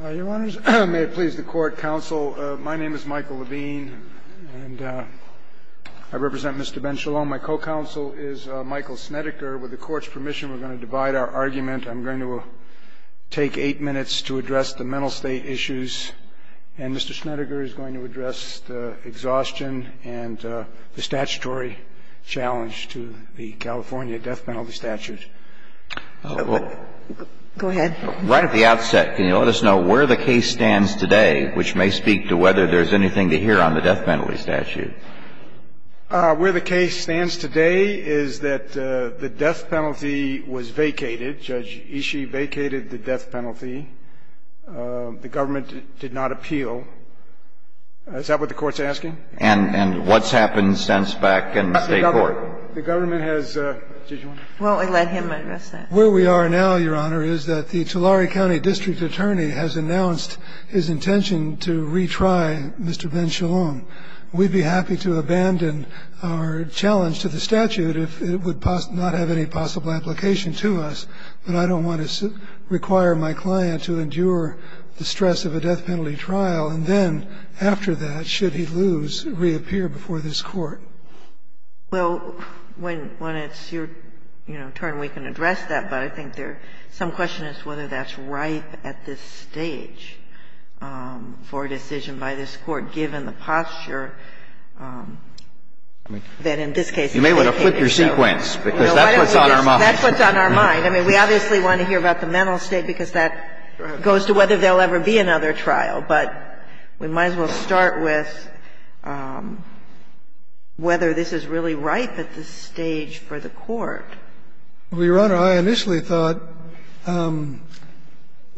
Your Honors, may it please the Court, Counsel, my name is Michael Levine and I represent Mr. Ben-Sholom. My co-counsel is Michael Snedeker. With the Court's permission, we're going to divide our argument. I'm going to take eight minutes to address the mental state issues and Mr. Snedeker is going to address the exhaustion and the statutory challenge to the California death penalty statute. Go ahead. Right at the outset, can you let us know where the case stands today, which may speak to whether there's anything to hear on the death penalty statute? Where the case stands today is that the death penalty was vacated. Judge Ishii vacated the death penalty. The government did not appeal. Is that what the Court's asking? And what's happened since back in the State Court? The government has – Well, let him address that. Where we are now, Your Honor, is that the Tulare County district attorney has announced his intention to retry Mr. Ben-Sholom. We'd be happy to abandon our challenge to the statute if it would not have any possible application to us, but I don't want to require my client to endure the stress of a death penalty trial, and then after that, should he lose, reappear before this Court. Well, when it's your turn, we can address that, but I think there's some question as to whether that's ripe at this stage for a decision by this Court, given the posture that in this case it's vacated. You may want to flip your sequence, because that's what's on our mind. That's what's on our mind. I mean, we obviously want to hear about the mental state, because that goes to whether there will ever be another trial. But we might as well start with whether this is really ripe at this stage for the Court. Well, Your Honor, I initially thought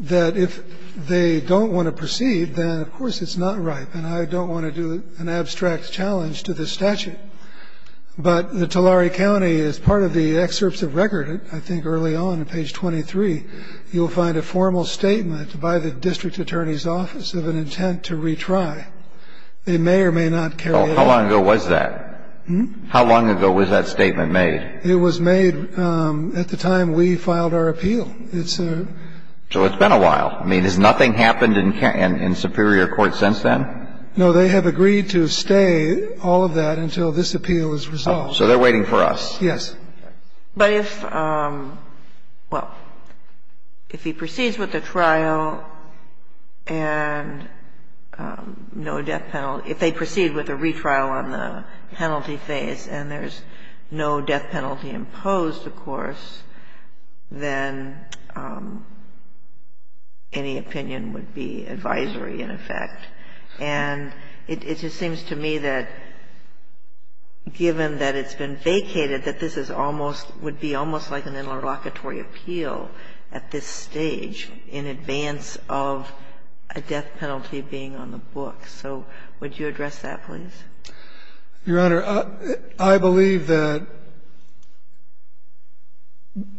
that if they don't want to proceed, then of course it's not ripe, and I don't want to do an abstract challenge to the statute. But the Tulare County, as part of the excerpts of record, I think early on, on page 23, you'll find a formal statement by the district attorney's office of an intent to retry. They may or may not carry it out. Well, how long ago was that? How long ago was that statement made? It was made at the time we filed our appeal. It's a So it's been a while. I mean, has nothing happened in superior court since then? No, they have agreed to stay all of that until this appeal is resolved. So they're waiting for us. Yes. But if, well, if he proceeds with the trial and no death penalty, if they proceed with a retrial on the penalty phase and there's no death penalty imposed, of course, then any opinion would be advisory in effect. And it just seems to me that given that it's been vacated, that this is almost would be almost like an interlocutory appeal at this stage in advance of a death penalty being on the book. So would you address that, please? Your Honor, I believe that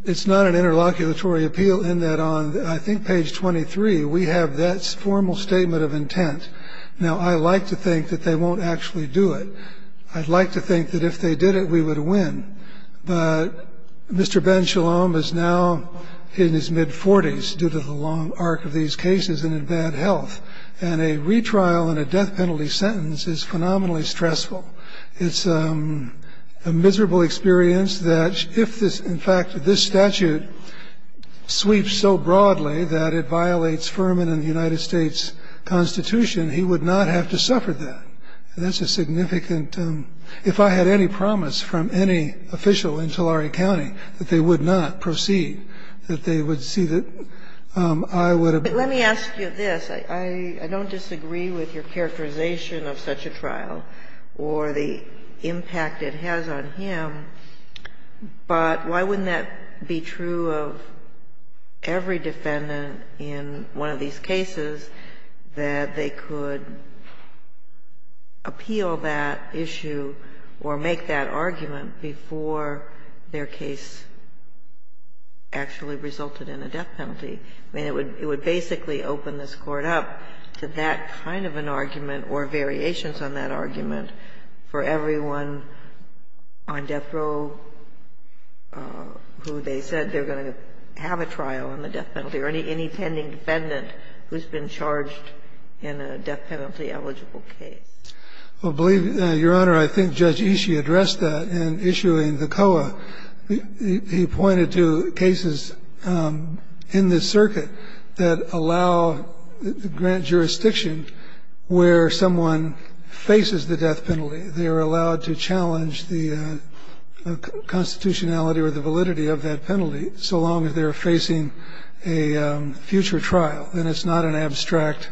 it's not an interlocutory appeal in that on, I think, page 23, we have that formal statement of intent. Now, I like to think that they won't actually do it. I'd like to think that if they did it, we would win. But Mr. Ben Shalom is now in his mid-40s due to the long arc of these cases and in bad health. And a retrial and a death penalty sentence is phenomenally stressful. It's a miserable experience that if this, in fact, this statute sweeps so broadly that it violates Furman and the United States Constitution, he would not have to suffer that. And that's a significant – if I had any promise from any official in Tulare County that they would not proceed, that they would see that I would have been But let me ask you this. I don't disagree with your characterization of such a trial or the impact it has on I am, but why wouldn't that be true of every defendant in one of these cases that they could appeal that issue or make that argument before their case actually resulted in a death penalty? I mean, it would basically open this Court up to that kind of an argument or variations on that argument for everyone on death row who they said they're going to have a trial on the death penalty or any pending defendant who's been charged in a death penalty eligible case. Well, believe me, Your Honor, I think Judge Ishii addressed that in issuing the COA. He pointed to cases in this circuit that allow the grant jurisdiction where someone faces the death penalty. They are allowed to challenge the constitutionality or the validity of that penalty so long as they're facing a future trial. And it's not an abstract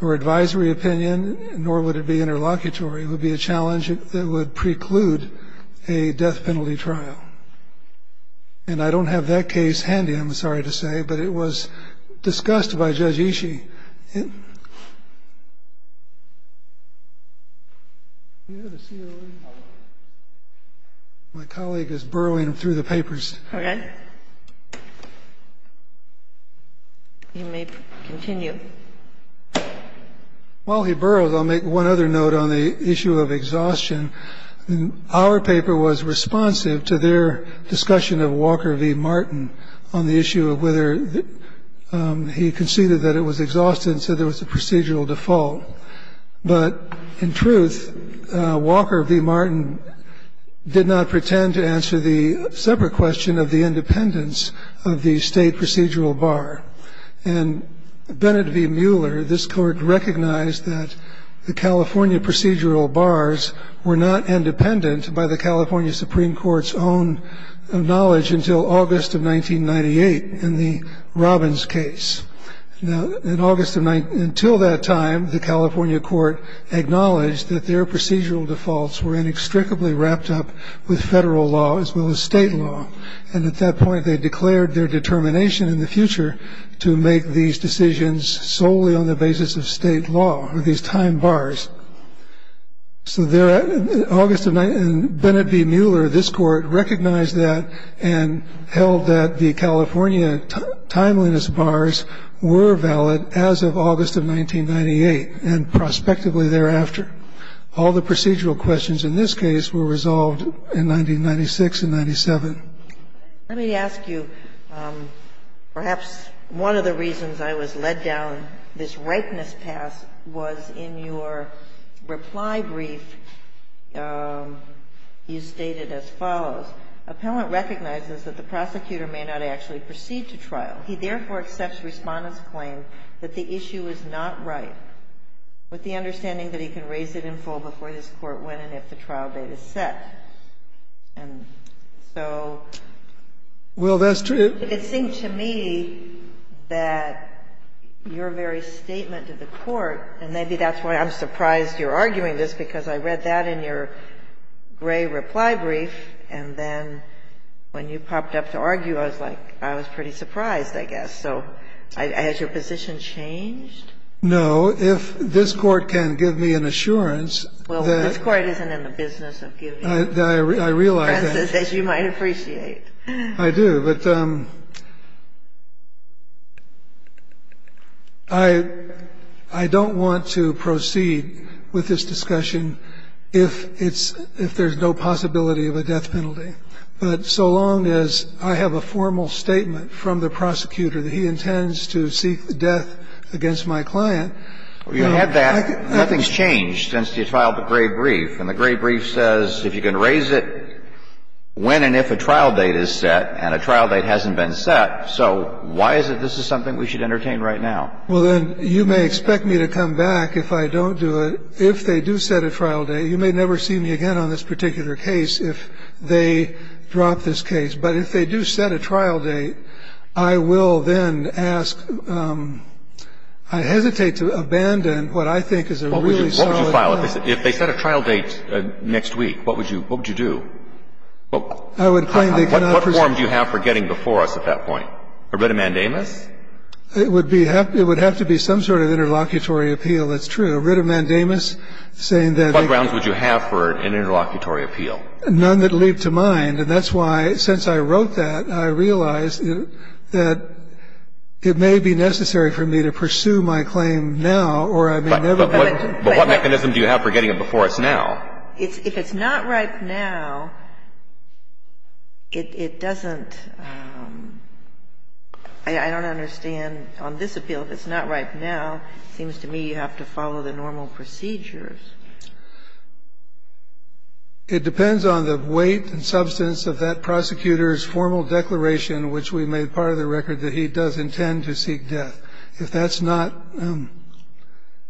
or advisory opinion, nor would it be interlocutory. It would be a challenge that would preclude a death penalty trial. And I don't have that case handy, I'm sorry to say, but it was discussed by Judge Ishii. My colleague is burrowing through the papers. Okay. You may continue. While he burrows, I'll make one other note on the issue of exhaustion. Our paper was responsive to their discussion of Walker v. Martin on the issue of whether he conceded that it was exhaustion, so there was a procedural default. But in truth, Walker v. Martin did not pretend to answer the separate question of the independence of the State procedural bar. And Benedict v. Mueller, this Court recognized that the California procedural bars were not independent by the California Supreme Court's own knowledge until August of 1998 in the Robbins case. Now, until that time, the California court acknowledged that their procedural defaults were inextricably wrapped up with federal law as well as state law. And at that point, they declared their determination in the future to make these decisions solely on the basis of state law, or these time bars. So there at August of 1998, and Benedict v. Mueller, this Court recognized that and held that the California timeliness bars were valid as of August of 1998 and prospectively thereafter. All the procedural questions in this case were resolved in 1996 and 97. Let me ask you, perhaps one of the reasons I was led down this ripeness path was in your reply brief, you stated as follows. Appellant recognizes that the prosecutor may not actually proceed to trial. He therefore accepts Respondent's claim that the issue is not right, with the understanding that he can raise it in full before this Court when and if the trial date is set. And so you could seem to me that your very statement to the Court, and maybe that's why I'm surprised you're arguing this, because I read that in your gray reply brief, and then when you popped up to argue, I was like, I was pretty surprised, I guess. So has your position changed? No. If this Court can give me an assurance that the Court isn't in the business of giving you a preface, as you might appreciate. I do, but I don't want to proceed with this discussion if it's – if there's no possibility of a death penalty. But so long as I have a formal statement from the prosecutor that he intends to seek the death against my client, I can't do that. Well, you had that. Nothing's changed since you filed the gray brief, and the gray brief says if you can raise it when and if a trial date is set, and a trial date hasn't been set, so why is it this is something we should entertain right now? Well, then, you may expect me to come back if I don't do it. If they do set a trial date, you may never see me again on this particular case if they drop this case. But if they do set a trial date, I will then ask – I hesitate to abandon what I think is a really solid case. If they set a trial date next week, what would you – what would you do? I would claim they cannot presume – What form do you have for getting before us at that point? A writ of mandamus? It would be – it would have to be some sort of interlocutory appeal. That's true. A writ of mandamus saying that – What grounds would you have for an interlocutory appeal? None that leap to mind, and that's why, since I wrote that, I realized that it may be necessary for me to pursue my claim now, or I may never – But what mechanism do you have for getting it before us now? If it's not right now, it doesn't – I don't understand on this appeal. If it's not right now, it seems to me you have to follow the normal procedures. It depends on the weight and substance of that prosecutor's formal declaration, which we made part of the record, that he does intend to seek death. If that's not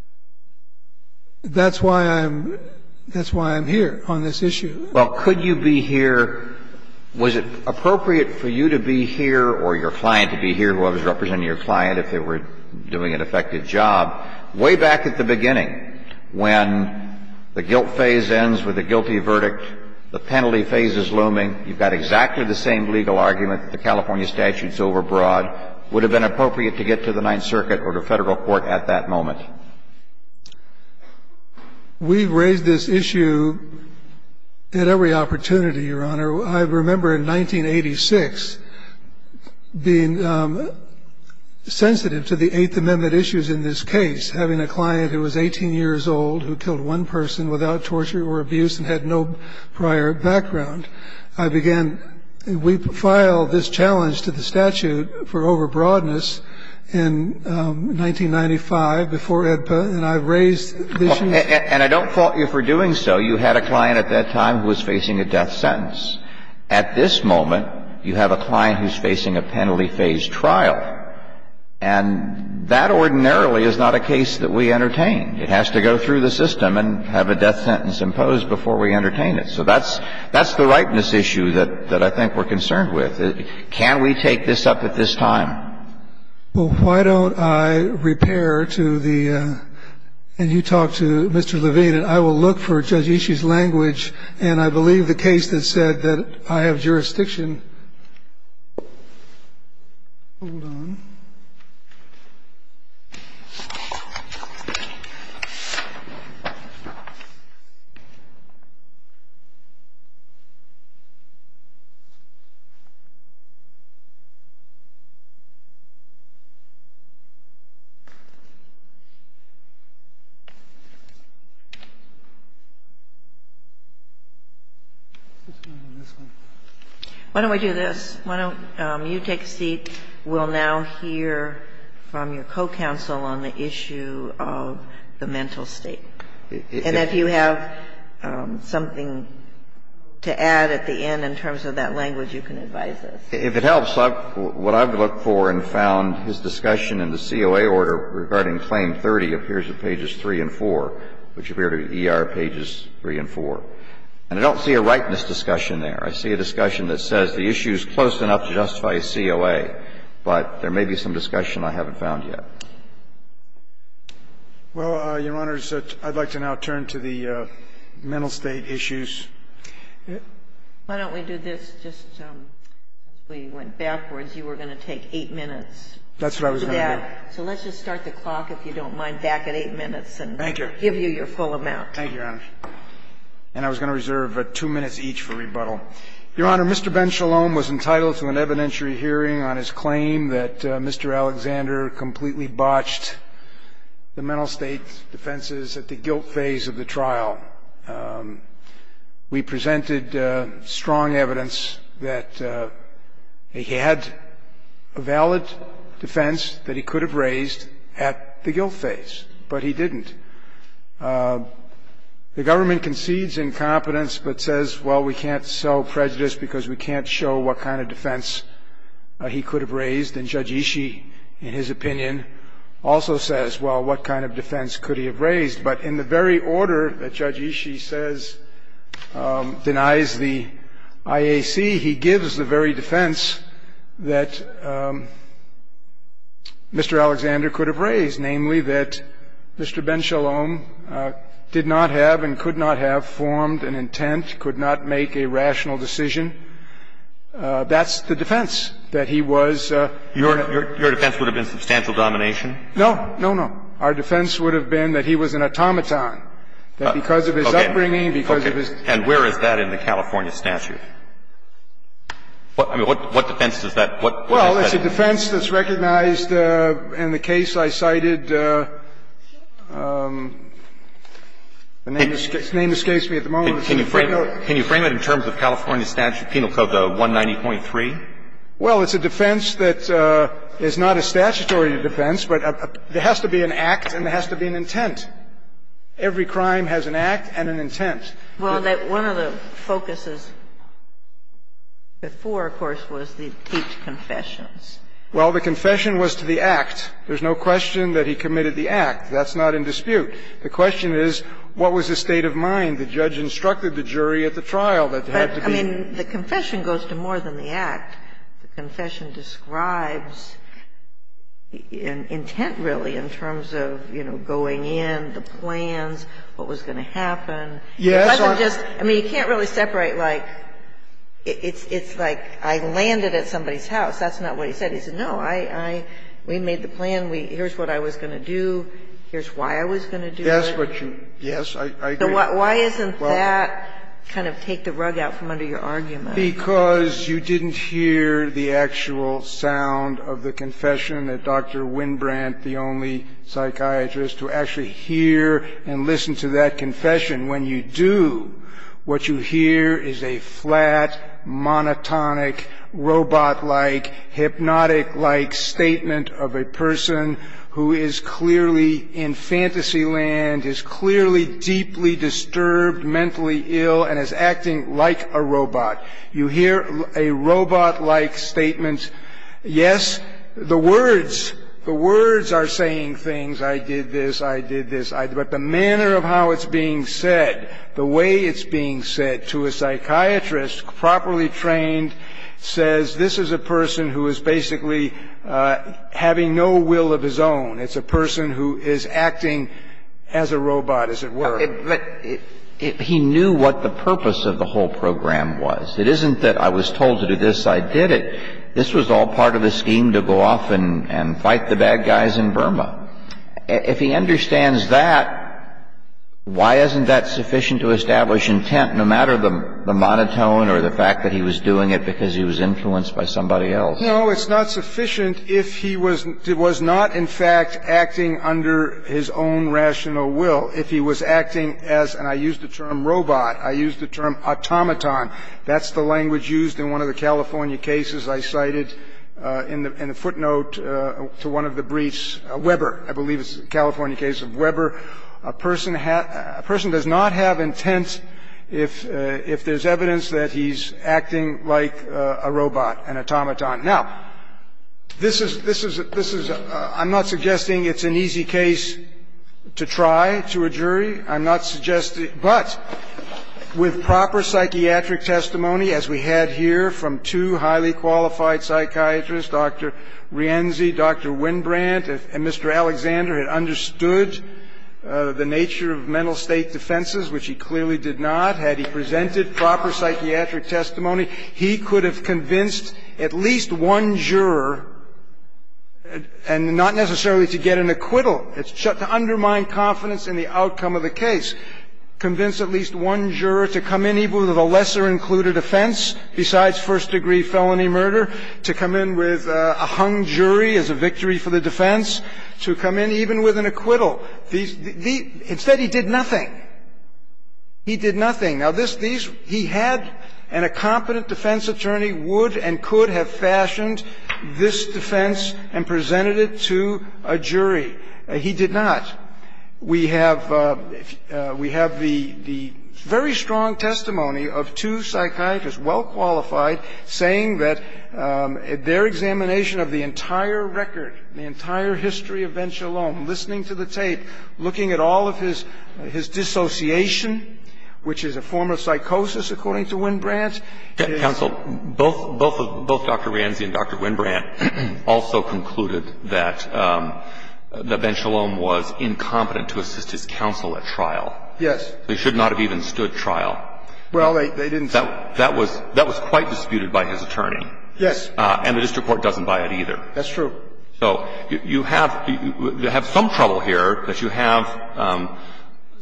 – that's why I'm – that's why I'm here on this issue. Well, could you be here – was it appropriate for you to be here or your client to be here, whoever's representing your client, if they were doing an effective job? Way back at the beginning, when the guilt phase ends with a guilty verdict, the penalty phase is looming, you've got exactly the same legal argument that the California statute's overbroad. Would it have been appropriate to get to the Ninth Circuit or to federal court at that moment? We've raised this issue at every opportunity, Your Honor. I remember in 1986 being sensitive to the Eighth Amendment issues in this case, having a client who was 18 years old who killed one person without torture or abuse and had no prior background. I began – we filed this challenge to the statute for overbroadness in 1995 before EDPA and I raised this issue. And I don't fault you for doing so. You had a client at that time who was facing a death sentence. At this moment, you have a client who's facing a penalty phase trial. And that ordinarily is not a case that we entertain. It has to go through the system and have a death sentence imposed before we entertain it. So that's the ripeness issue that I think we're concerned with. Can we take this up at this time? Well, why don't I repair to the – and you talk to Mr. Levine and I will look for Judge Ishii's language and I believe the case that said that I have jurisdiction – hold on. Why don't we do this? Why don't you take a seat? We'll now hear from your co-counsel on the issue of the mental state. And if you have something to add at the end in terms of that language, you can advise us. If it helps, what I've looked for and found, his discussion in the COA order regarding Claim 30 appears at pages 3 and 4, which appear to be ER pages 3 and 4. And I don't see a rightness discussion there. I see a discussion that says the issue is close enough to justify a COA, but there may be some discussion I haven't found yet. Well, Your Honors, I'd like to now turn to the mental state issues. Why don't we do this just – we went backwards. You were going to take 8 minutes. That's what I was going to do. So let's just start the clock, if you don't mind, back at 8 minutes and give you your full amount. Thank you, Your Honor. And I was going to reserve 2 minutes each for rebuttal. Your Honor, Mr. Ben Shalom was entitled to an evidentiary hearing on his claim that Mr. Alexander completely botched the mental state defenses at the guilt phase of the trial. We presented strong evidence that he had a valid defense that he could have raised at the guilt phase, but he didn't. The government concedes incompetence but says, well, we can't sell prejudice because we can't show what kind of defense he could have raised. And Judge Ishii, in his opinion, also says, well, what kind of defense could he have raised? But in the very order that Judge Ishii says – denies the IAC, he gives the very defense that Mr. Alexander could have raised, namely that Mr. Ben Shalom did not have and could not have formed an intent, could not make a rational decision. That's the defense, that he was – Your defense would have been substantial domination? No. No, no. Our defense would have been that he was an automaton, that because of his upbringing, because of his – Okay. And where is that in the California statute? I mean, what defense does that – what is that? Well, it's a defense that's recognized in the case I cited. The name escapes me at the moment. Can you frame it in terms of California statute, Penal Code 190.3? Well, it's a defense that is not a statutory defense, but there has to be an act and there has to be an intent. Every crime has an act and an intent. Well, one of the focuses before, of course, was to teach confessions. Well, the confession was to the act. There's no question that he committed the act. That's not in dispute. The question is, what was the state of mind? The judge instructed the jury at the trial that there had to be – But, I mean, the confession goes to more than the act. The confession describes an intent, really, in terms of, you know, going in, the plans, what was going to happen. Yes. I mean, you can't really separate, like – it's like I landed at somebody's house. That's not what he said. He said, no, I – we made the plan. Here's what I was going to do. Here's why I was going to do it. Yes, but you – yes, I agree. Why isn't that kind of take the rug out from under your argument? Because you didn't hear the actual sound of the confession that Dr. Winbrant, the only psychiatrist, to actually hear and listen to that confession. When you do, what you hear is a flat, monotonic, robot-like, hypnotic-like statement of a person who is clearly in fantasy land, is clearly deeply disturbed, mentally ill, and is acting like a robot. You hear a robot-like statement. Yes, the words – the words are saying things. I did this. I did this. But the manner of how it's being said, the way it's being said to a psychiatrist, properly trained, says this is a person who is basically having no will of his own. It's a person who is acting as a robot, as it were. But he knew what the purpose of the whole program was. It isn't that I was told to do this. I did it. This was all part of the scheme to go off and fight the bad guys in Burma. If he understands that, why isn't that sufficient to establish intent, no matter the monotone or the fact that he was doing it because he was influenced by somebody else? No, it's not sufficient if he was not, in fact, acting under his own rational will. If he was acting as – and I use the term robot. I use the term automaton. That's the language used in one of the California cases I cited in the footnote to one of the briefs. Weber. I believe it's a California case of Weber. A person does not have intent if there's evidence that he's acting like a robot, an automaton. Now, this is – I'm not suggesting it's an easy case to try to a jury. I'm not suggesting – but with proper psychiatric testimony, as we had here from two highly qualified psychiatrists, Dr. Rienzi, Dr. Winbrandt, and Mr. Alexander had understood the nature of mental state defenses, which he clearly did not, had he presented proper psychiatric testimony, he could have convinced at least one juror, and not necessarily to get an acquittal, to undermine confidence in the case, convince at least one juror to come in even with a lesser-included offense besides first-degree felony murder, to come in with a hung jury as a victory for the defense, to come in even with an acquittal. These – instead, he did nothing. He did nothing. Now, this – he had – and a competent defense attorney would and could have fashioned this defense and presented it to a jury. He did not. We have – we have the very strong testimony of two psychiatrists, well qualified, saying that their examination of the entire record, the entire history of Ben Shalom, listening to the tape, looking at all of his dissociation, which is a form of psychosis, according to Winbrandt, is – Counsel, both – both Dr. Rienzi and Dr. Winbrandt also concluded that Ben Shalom was incompetent to assist his counsel at trial. Yes. They should not have even stood trial. Well, they didn't. That was – that was quite disputed by his attorney. Yes. And the district court doesn't buy it either. That's true. So you have – you have some trouble here that you have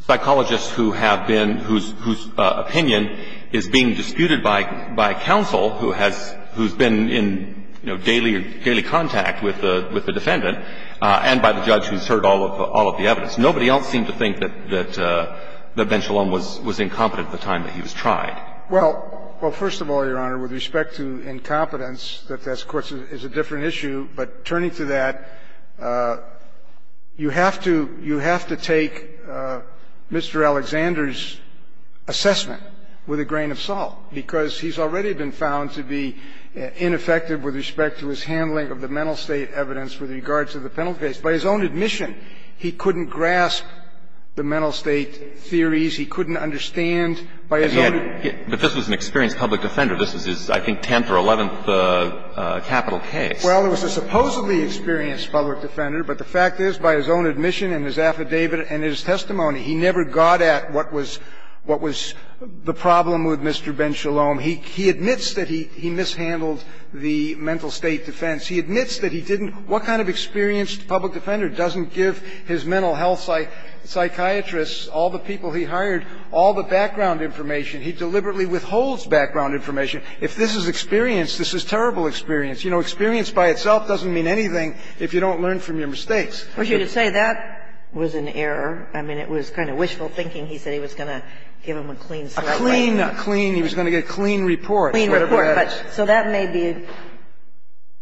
psychologists who have been with the defendant and by the judge who's heard all of – all of the evidence. Nobody else seemed to think that – that Ben Shalom was – was incompetent at the time that he was tried. Well – well, first of all, Your Honor, with respect to incompetence, that, of course, is a different issue, but turning to that, you have to – you have to take Mr. Alexander's assessment with a grain of salt, because he's already been found to be ineffective with respect to his handling of the mental state evidence with regards to the penalty case. By his own admission, he couldn't grasp the mental state theories. He couldn't understand, by his own – But he had – but this was an experienced public defender. This was his, I think, 10th or 11th capital case. Well, it was a supposedly experienced public defender, but the fact is, by his own admission and his affidavit and his testimony, he never got at what was – what was the problem with Mr. Ben Shalom. He admits that he mishandled the mental state defense. He admits that he didn't – what kind of experienced public defender doesn't give his mental health psychiatrists, all the people he hired, all the background information? He deliberately withholds background information. If this is experience, this is terrible experience. You know, experience by itself doesn't mean anything if you don't learn from your mistakes. Well, you could say that was an error. I mean, it was kind of wishful thinking. He said he was going to give him a clean slate. A clean – a clean. I mean, he was going to get a clean report, whatever that is. A clean report, but so that may be,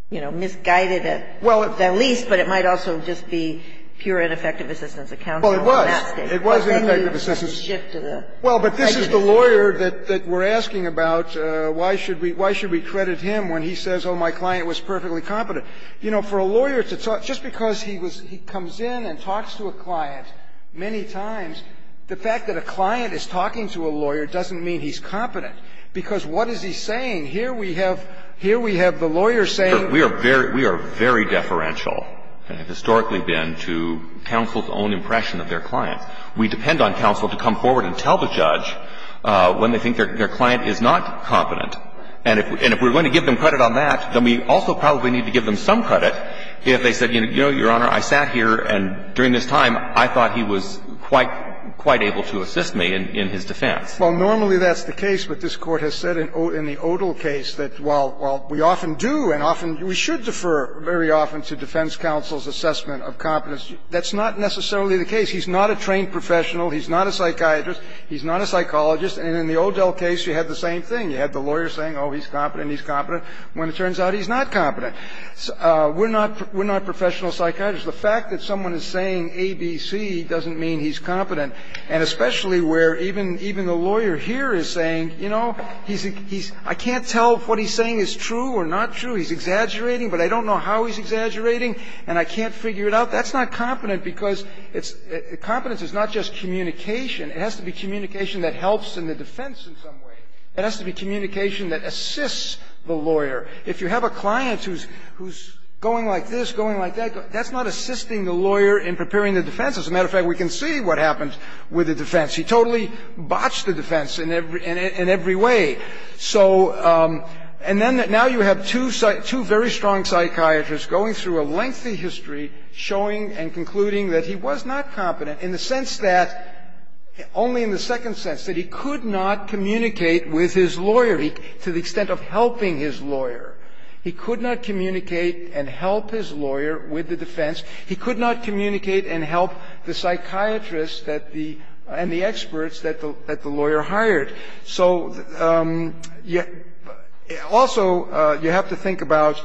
you know, misguided at the least, but it might also just be pure ineffective assistance of counsel in that state. Well, it was. It was ineffective assistance. Well, then you shifted it. Well, but this is the lawyer that we're asking about, why should we – why should we credit him when he says, oh, my client was perfectly competent? You know, for a lawyer to talk – just because he was – he comes in and talks to a client many times, the fact that a client is talking to a lawyer doesn't mean he's competent, because what is he saying? Here we have – here we have the lawyer saying – We are very – we are very deferential, and have historically been, to counsel's own impression of their clients. We depend on counsel to come forward and tell the judge when they think their client is not competent. And if we're going to give them credit on that, then we also probably need to give them some credit if they said, you know, Your Honor, I sat here and during this time, I thought he was quite – quite able to assist me in his defense. Well, normally that's the case, but this Court has said in the Odell case that while we often do and often – we should defer very often to defense counsel's assessment of competence. That's not necessarily the case. He's not a trained professional. He's not a psychiatrist. He's not a psychologist. And in the Odell case, you had the same thing. You had the lawyer saying, oh, he's competent, he's competent, when it turns out he's not competent. We're not – we're not professional psychiatrists. The fact that someone is saying A, B, C doesn't mean he's competent. And especially where even – even the lawyer here is saying, you know, he's – he's – I can't tell if what he's saying is true or not true. He's exaggerating, but I don't know how he's exaggerating, and I can't figure it out. That's not competent because it's – competence is not just communication. It has to be communication that helps in the defense in some way. It has to be communication that assists the lawyer. If you have a client who's – who's going like this, going like that, that's not assisting the lawyer in preparing the defense. As a matter of fact, we can see what happens with the defense. He totally botched the defense in every – in every way. So – and then now you have two – two very strong psychiatrists going through a lengthy history showing and concluding that he was not competent in the sense that – only in the second sense, that he could not communicate with his lawyer to the extent of helping his lawyer. He could not communicate and help his lawyer with the defense. He could not communicate and help the psychiatrists that the – and the experts that the – that the lawyer hired. So also, you have to think about,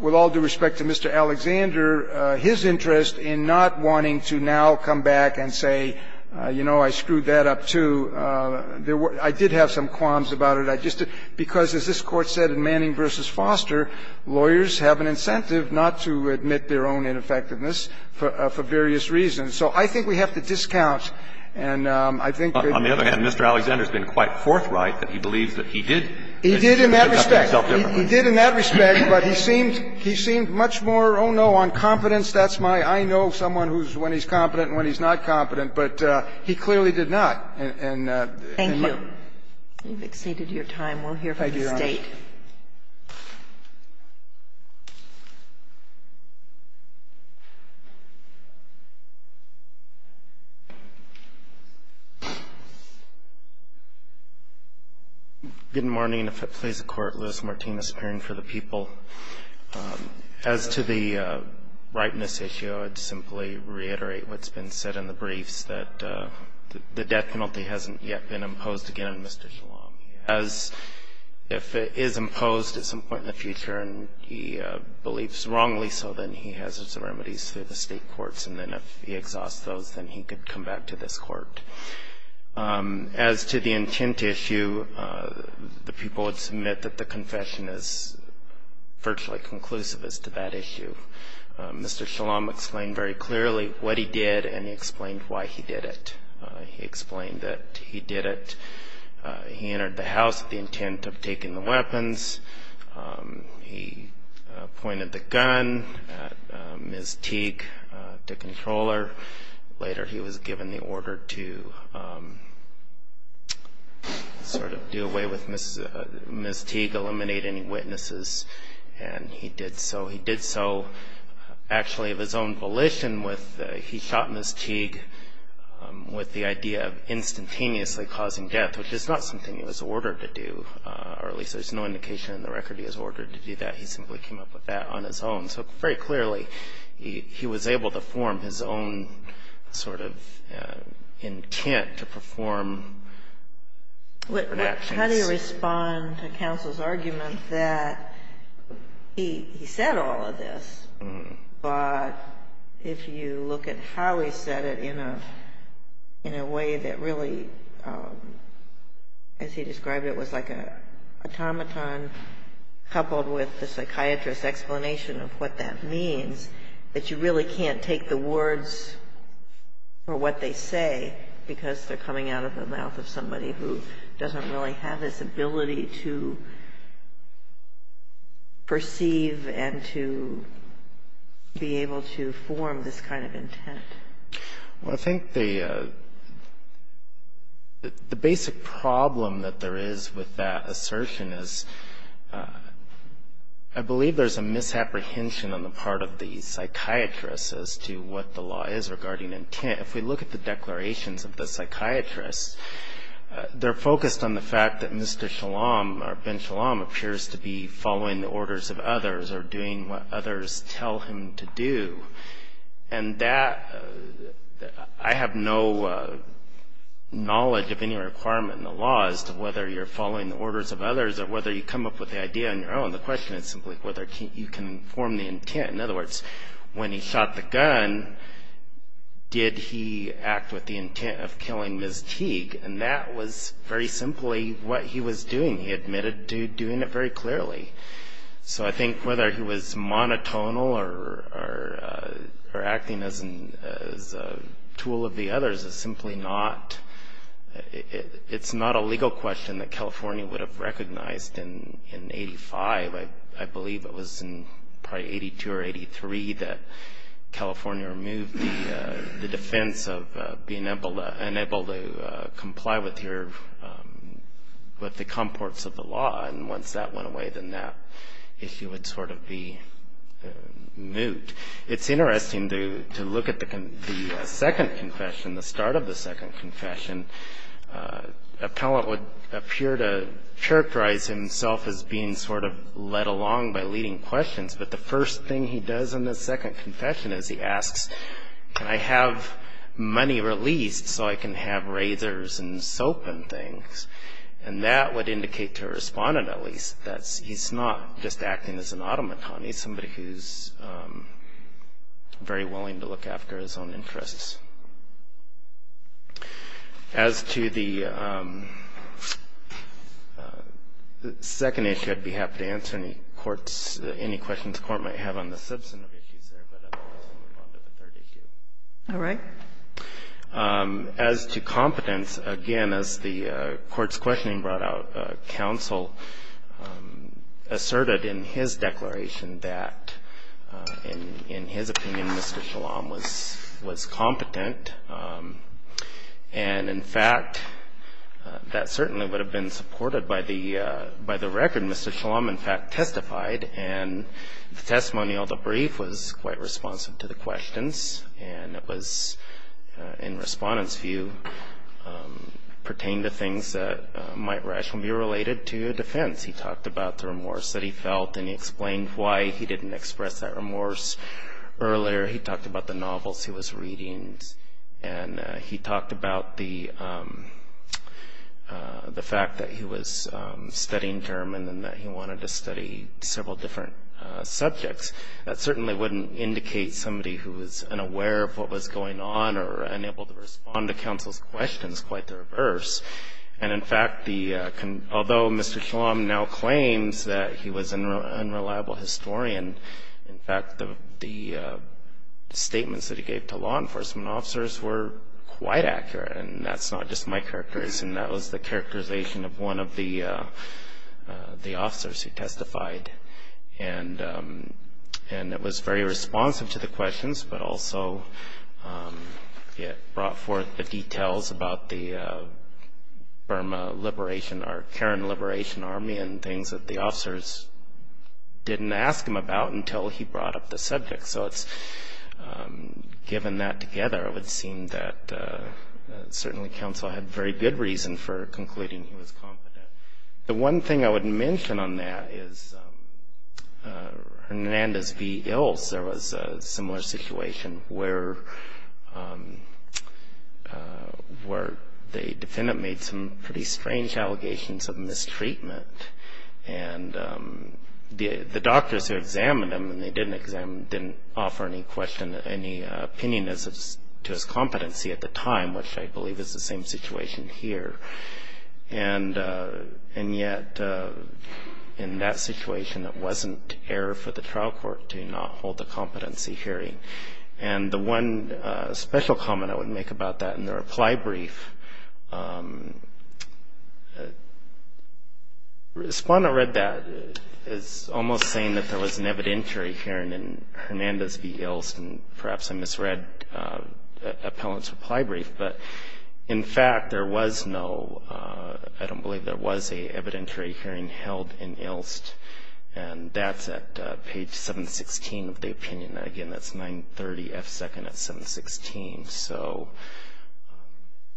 with all due respect to Mr. Alexander, his interest in not wanting to now come back and say, you know, I screwed that up, too. There were – I did have some qualms about it. I just – because, as this Court said in Manning v. Foster, lawyers have an incentive not to admit their own ineffectiveness for various reasons. So I think we have to discount. And I think that you have to discount. Roberts. On the other hand, Mr. Alexander's been quite forthright that he believes that he did. He did in that respect. He did in that respect, but he seemed – he seemed much more, oh, no, on competence. That's my – I know someone who's – when he's competent and when he's not competent. But he clearly did not. And in my – Thank you. You've exceeded your time. We'll hear from the State. Thank you, Your Honor. Good morning. If it please the Court, Louis Martinez, appearing for the people. As to the rightness issue, I'd simply reiterate what's been said in the briefs, that the death penalty hasn't yet been imposed again on Mr. Shalom. As – if it is imposed at some point in the future and he believes wrongly so, then he has his remedies through the State courts. And then if he exhausts those, then he could come back to this Court. As to the intent issue, the people would submit that the confession is virtually conclusive as to that issue. Mr. Shalom explained very clearly what he did and he explained why he did it. He explained that he did it – he entered the house with the intent of taking the weapons. He pointed the gun at Ms. Teague, the controller. Later, he was given the order to sort of do away with Ms. – Ms. Teague, eliminate any witnesses, and he did so. He did so actually of his own volition with – he shot Ms. Teague with the idea of instantaneously causing death, which is not something he was ordered to do, or at least there's no indication in the record he was ordered to do that. He simply came up with that on his own. So very clearly, he was able to form his own sort of intent to perform actions. How do you respond to counsel's argument that he said all of this, but if you look at how he said it in a way that really, as he described it, was like an automaton coupled with the psychiatrist's explanation of what that means, that you really can't take the words or what they say because they're coming out of the mouth of somebody who doesn't really have this ability to perceive and to be able to form this kind of intent? Well, I think the basic problem that there is with that assertion is I believe there's a misapprehension on the part of the psychiatrist as to what the law is regarding intent. If we look at the declarations of the psychiatrist, they're focused on the fact that Mr. Shalom or Ben Shalom appears to be following the orders of others or doing what others tell him to do, and I have no knowledge of any requirement in the law as to whether you're following the orders of others or whether you come up with the idea on your own. The question is simply whether you can form the intent. In other words, when he shot the gun, did he act with the intent of killing Ms. Teague? And that was very simply what he was doing. He admitted to doing it very clearly. So I think whether he was monotonal or acting as a tool of the others is simply not, it's not a legal question that California would have recognized in 85. I believe it was in probably 82 or 83 that California removed the defense of being unable to comply with the comports of the law. And once that went away, then that issue would sort of be moot. It's interesting to look at the second confession, the start of the second confession. Appellant would appear to characterize himself as being sort of led along by leading questions, but the first thing he does in the second confession is he asks, can I have money released so I can have razors and soap and things? And that would indicate to a respondent, at least, that he's not just acting as an automaton. He's somebody who's very willing to look after his own interests. As to the second issue, I'd be happy to answer any courts, any questions the Court might have on the substantive issues there. But otherwise, we'll move on to the third issue. All right. As to competence, again, as the Court's questioning brought out, counsel asserted in his declaration that, in his opinion, Mr. Shalom was competent. And, in fact, that certainly would have been supported by the record. Mr. Shalom, in fact, testified, and the testimonial, the brief, was quite responsive to the questions. And it was, in respondent's view, pertaining to things that might rationally be related to defense. He talked about the remorse that he felt, and he explained why he didn't express that remorse earlier. He talked about the novels he was reading, and he talked about the fact that he was studying German, and that he wanted to study several different subjects. That certainly wouldn't indicate somebody who was unaware of what was going on, or unable to respond to counsel's questions, quite the reverse. And, in fact, although Mr. Shalom now claims that he was an unreliable historian, in fact, the statements that he gave to law enforcement officers were quite accurate. And that's not just my characterization. That was the characterization of one of the officers who testified. And it was very responsive to the questions, but also it brought forth the details about the Burma Liberation, or Karen Liberation Army, and things that the officers didn't ask him about until he brought up the subject. So it's, given that together, it would seem that certainly counsel had very good reason for concluding he was competent. The one thing I would mention on that is Hernandez v. Ilse. There was a similar situation where the defendant made some pretty strange allegations of mistreatment. And the doctors who examined him, and they didn't examine him, didn't offer any question, any opinion to his competency at the time, which I believe is the same situation here. And yet, in that situation, it wasn't error for the trial court to not hold the competency hearing. And the one special comment I would make about that in the reply brief, respondent read that, is almost saying that there was an evidentiary hearing in Hernandez v. Ilse, and perhaps I misread appellant's reply brief. But in fact, there was no, I don't believe there was a evidentiary hearing held in Ilse. And that's at page 716 of the opinion. And again, that's 930 F. 2nd at 716. So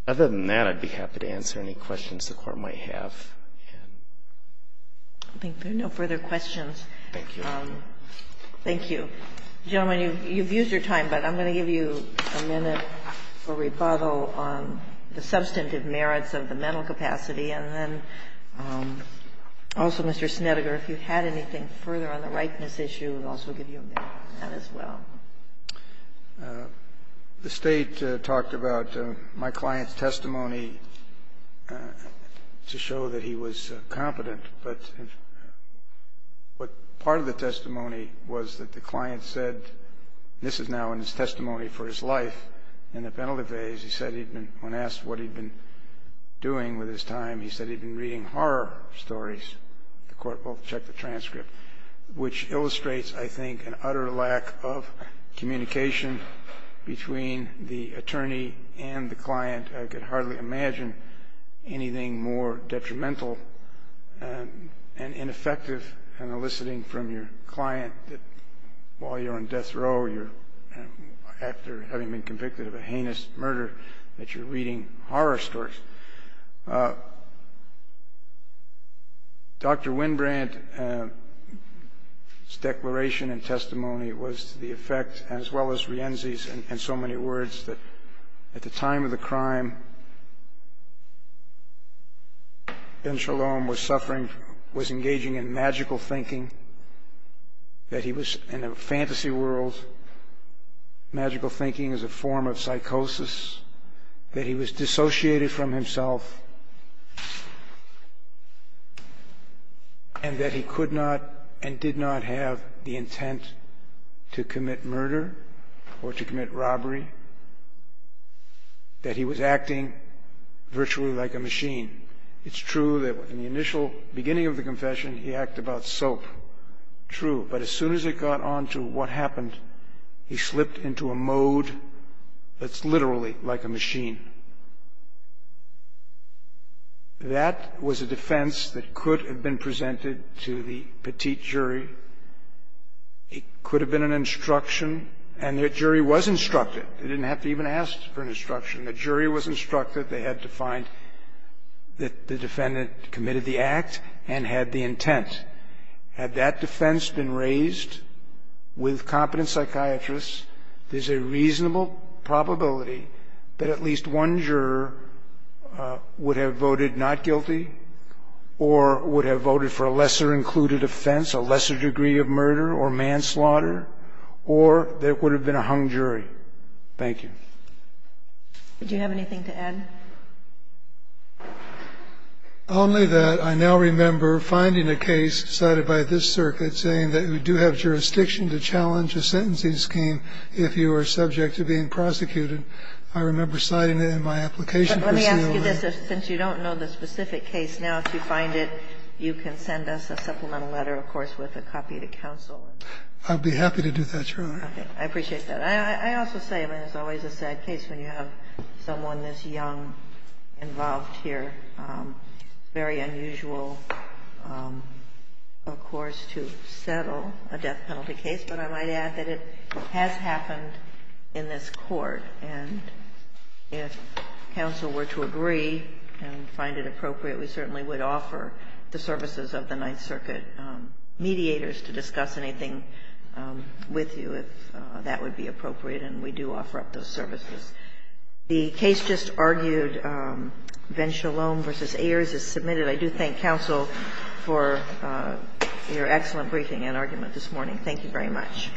other than that, I'd be happy to answer any questions the Court might have. And I think there are no further questions. Thank you. Thank you. Gentlemen, you've used your time, but I'm going to give you a minute for rebuttal on the substantive merits of the mental capacity. And then also, Mr. Snedeker, if you had anything further on the ripeness issue, I would also give you a minute for that as well. The State talked about my client's testimony to show that he was competent. But part of the testimony was that the client said, and this is now in his testimony for his life, in the penalty phase, he said he'd been, when asked what he'd been doing with his time, he said he'd been reading horror stories. The Court will check the transcript. Which illustrates, I think, an utter lack of communication between the attorney and the client. I could hardly imagine anything more detrimental and ineffective in eliciting from your client that while you're on death row, you're after having been convicted of a heinous murder, that you're reading horror stories. Dr. Winbrandt's declaration and testimony was to the effect, as well as Rienzi's and so many words, that at the time of the crime, Ben Shalom was suffering, was engaging in magical thinking, that he was in a fantasy world. Magical thinking is a form of psychosis, that he was dissociated from himself. And that he could not and did not have the intent to commit murder or to commit robbery, that he was acting virtually like a machine. It's true that in the initial beginning of the confession, he acted about soap. True. But as soon as it got on to what happened, he slipped into a mode that's literally like a machine. That was a defense that could have been presented to the petite jury. It could have been an instruction, and the jury was instructed. They didn't have to even ask for an instruction. The jury was instructed. They had to find that the defendant committed the act and had the intent. Had that defense been raised with competent psychiatrists, there's a reasonable probability that at least one juror would have voted not guilty, or would have voted for a lesser-included offense, a lesser degree of murder or manslaughter, or there would have been a hung jury. Thank you. Do you have anything to add? Only that I now remember finding a case cited by this circuit saying that you do have jurisdiction to challenge a sentencing scheme if you are subject to being prosecuted. I remember citing it in my application. But let me ask you this. Since you don't know the specific case now, if you find it, you can send us a supplemental letter, of course, with a copy to counsel. I'd be happy to do that, Your Honor. Okay. I appreciate that. I also say, I mean, it's always a sad case when you have someone this young involved here. It's very unusual, of course, to settle a death penalty case. But I might add that it has happened in this Court. And if counsel were to agree and find it appropriate, we certainly would offer the services of the Ninth Circuit mediators to discuss anything with you if that would be appropriate. And we do offer up those services. The case just argued, Venshalom v. Ayers, is submitted. I do thank counsel for your excellent briefing and argument this morning. Thank you very much.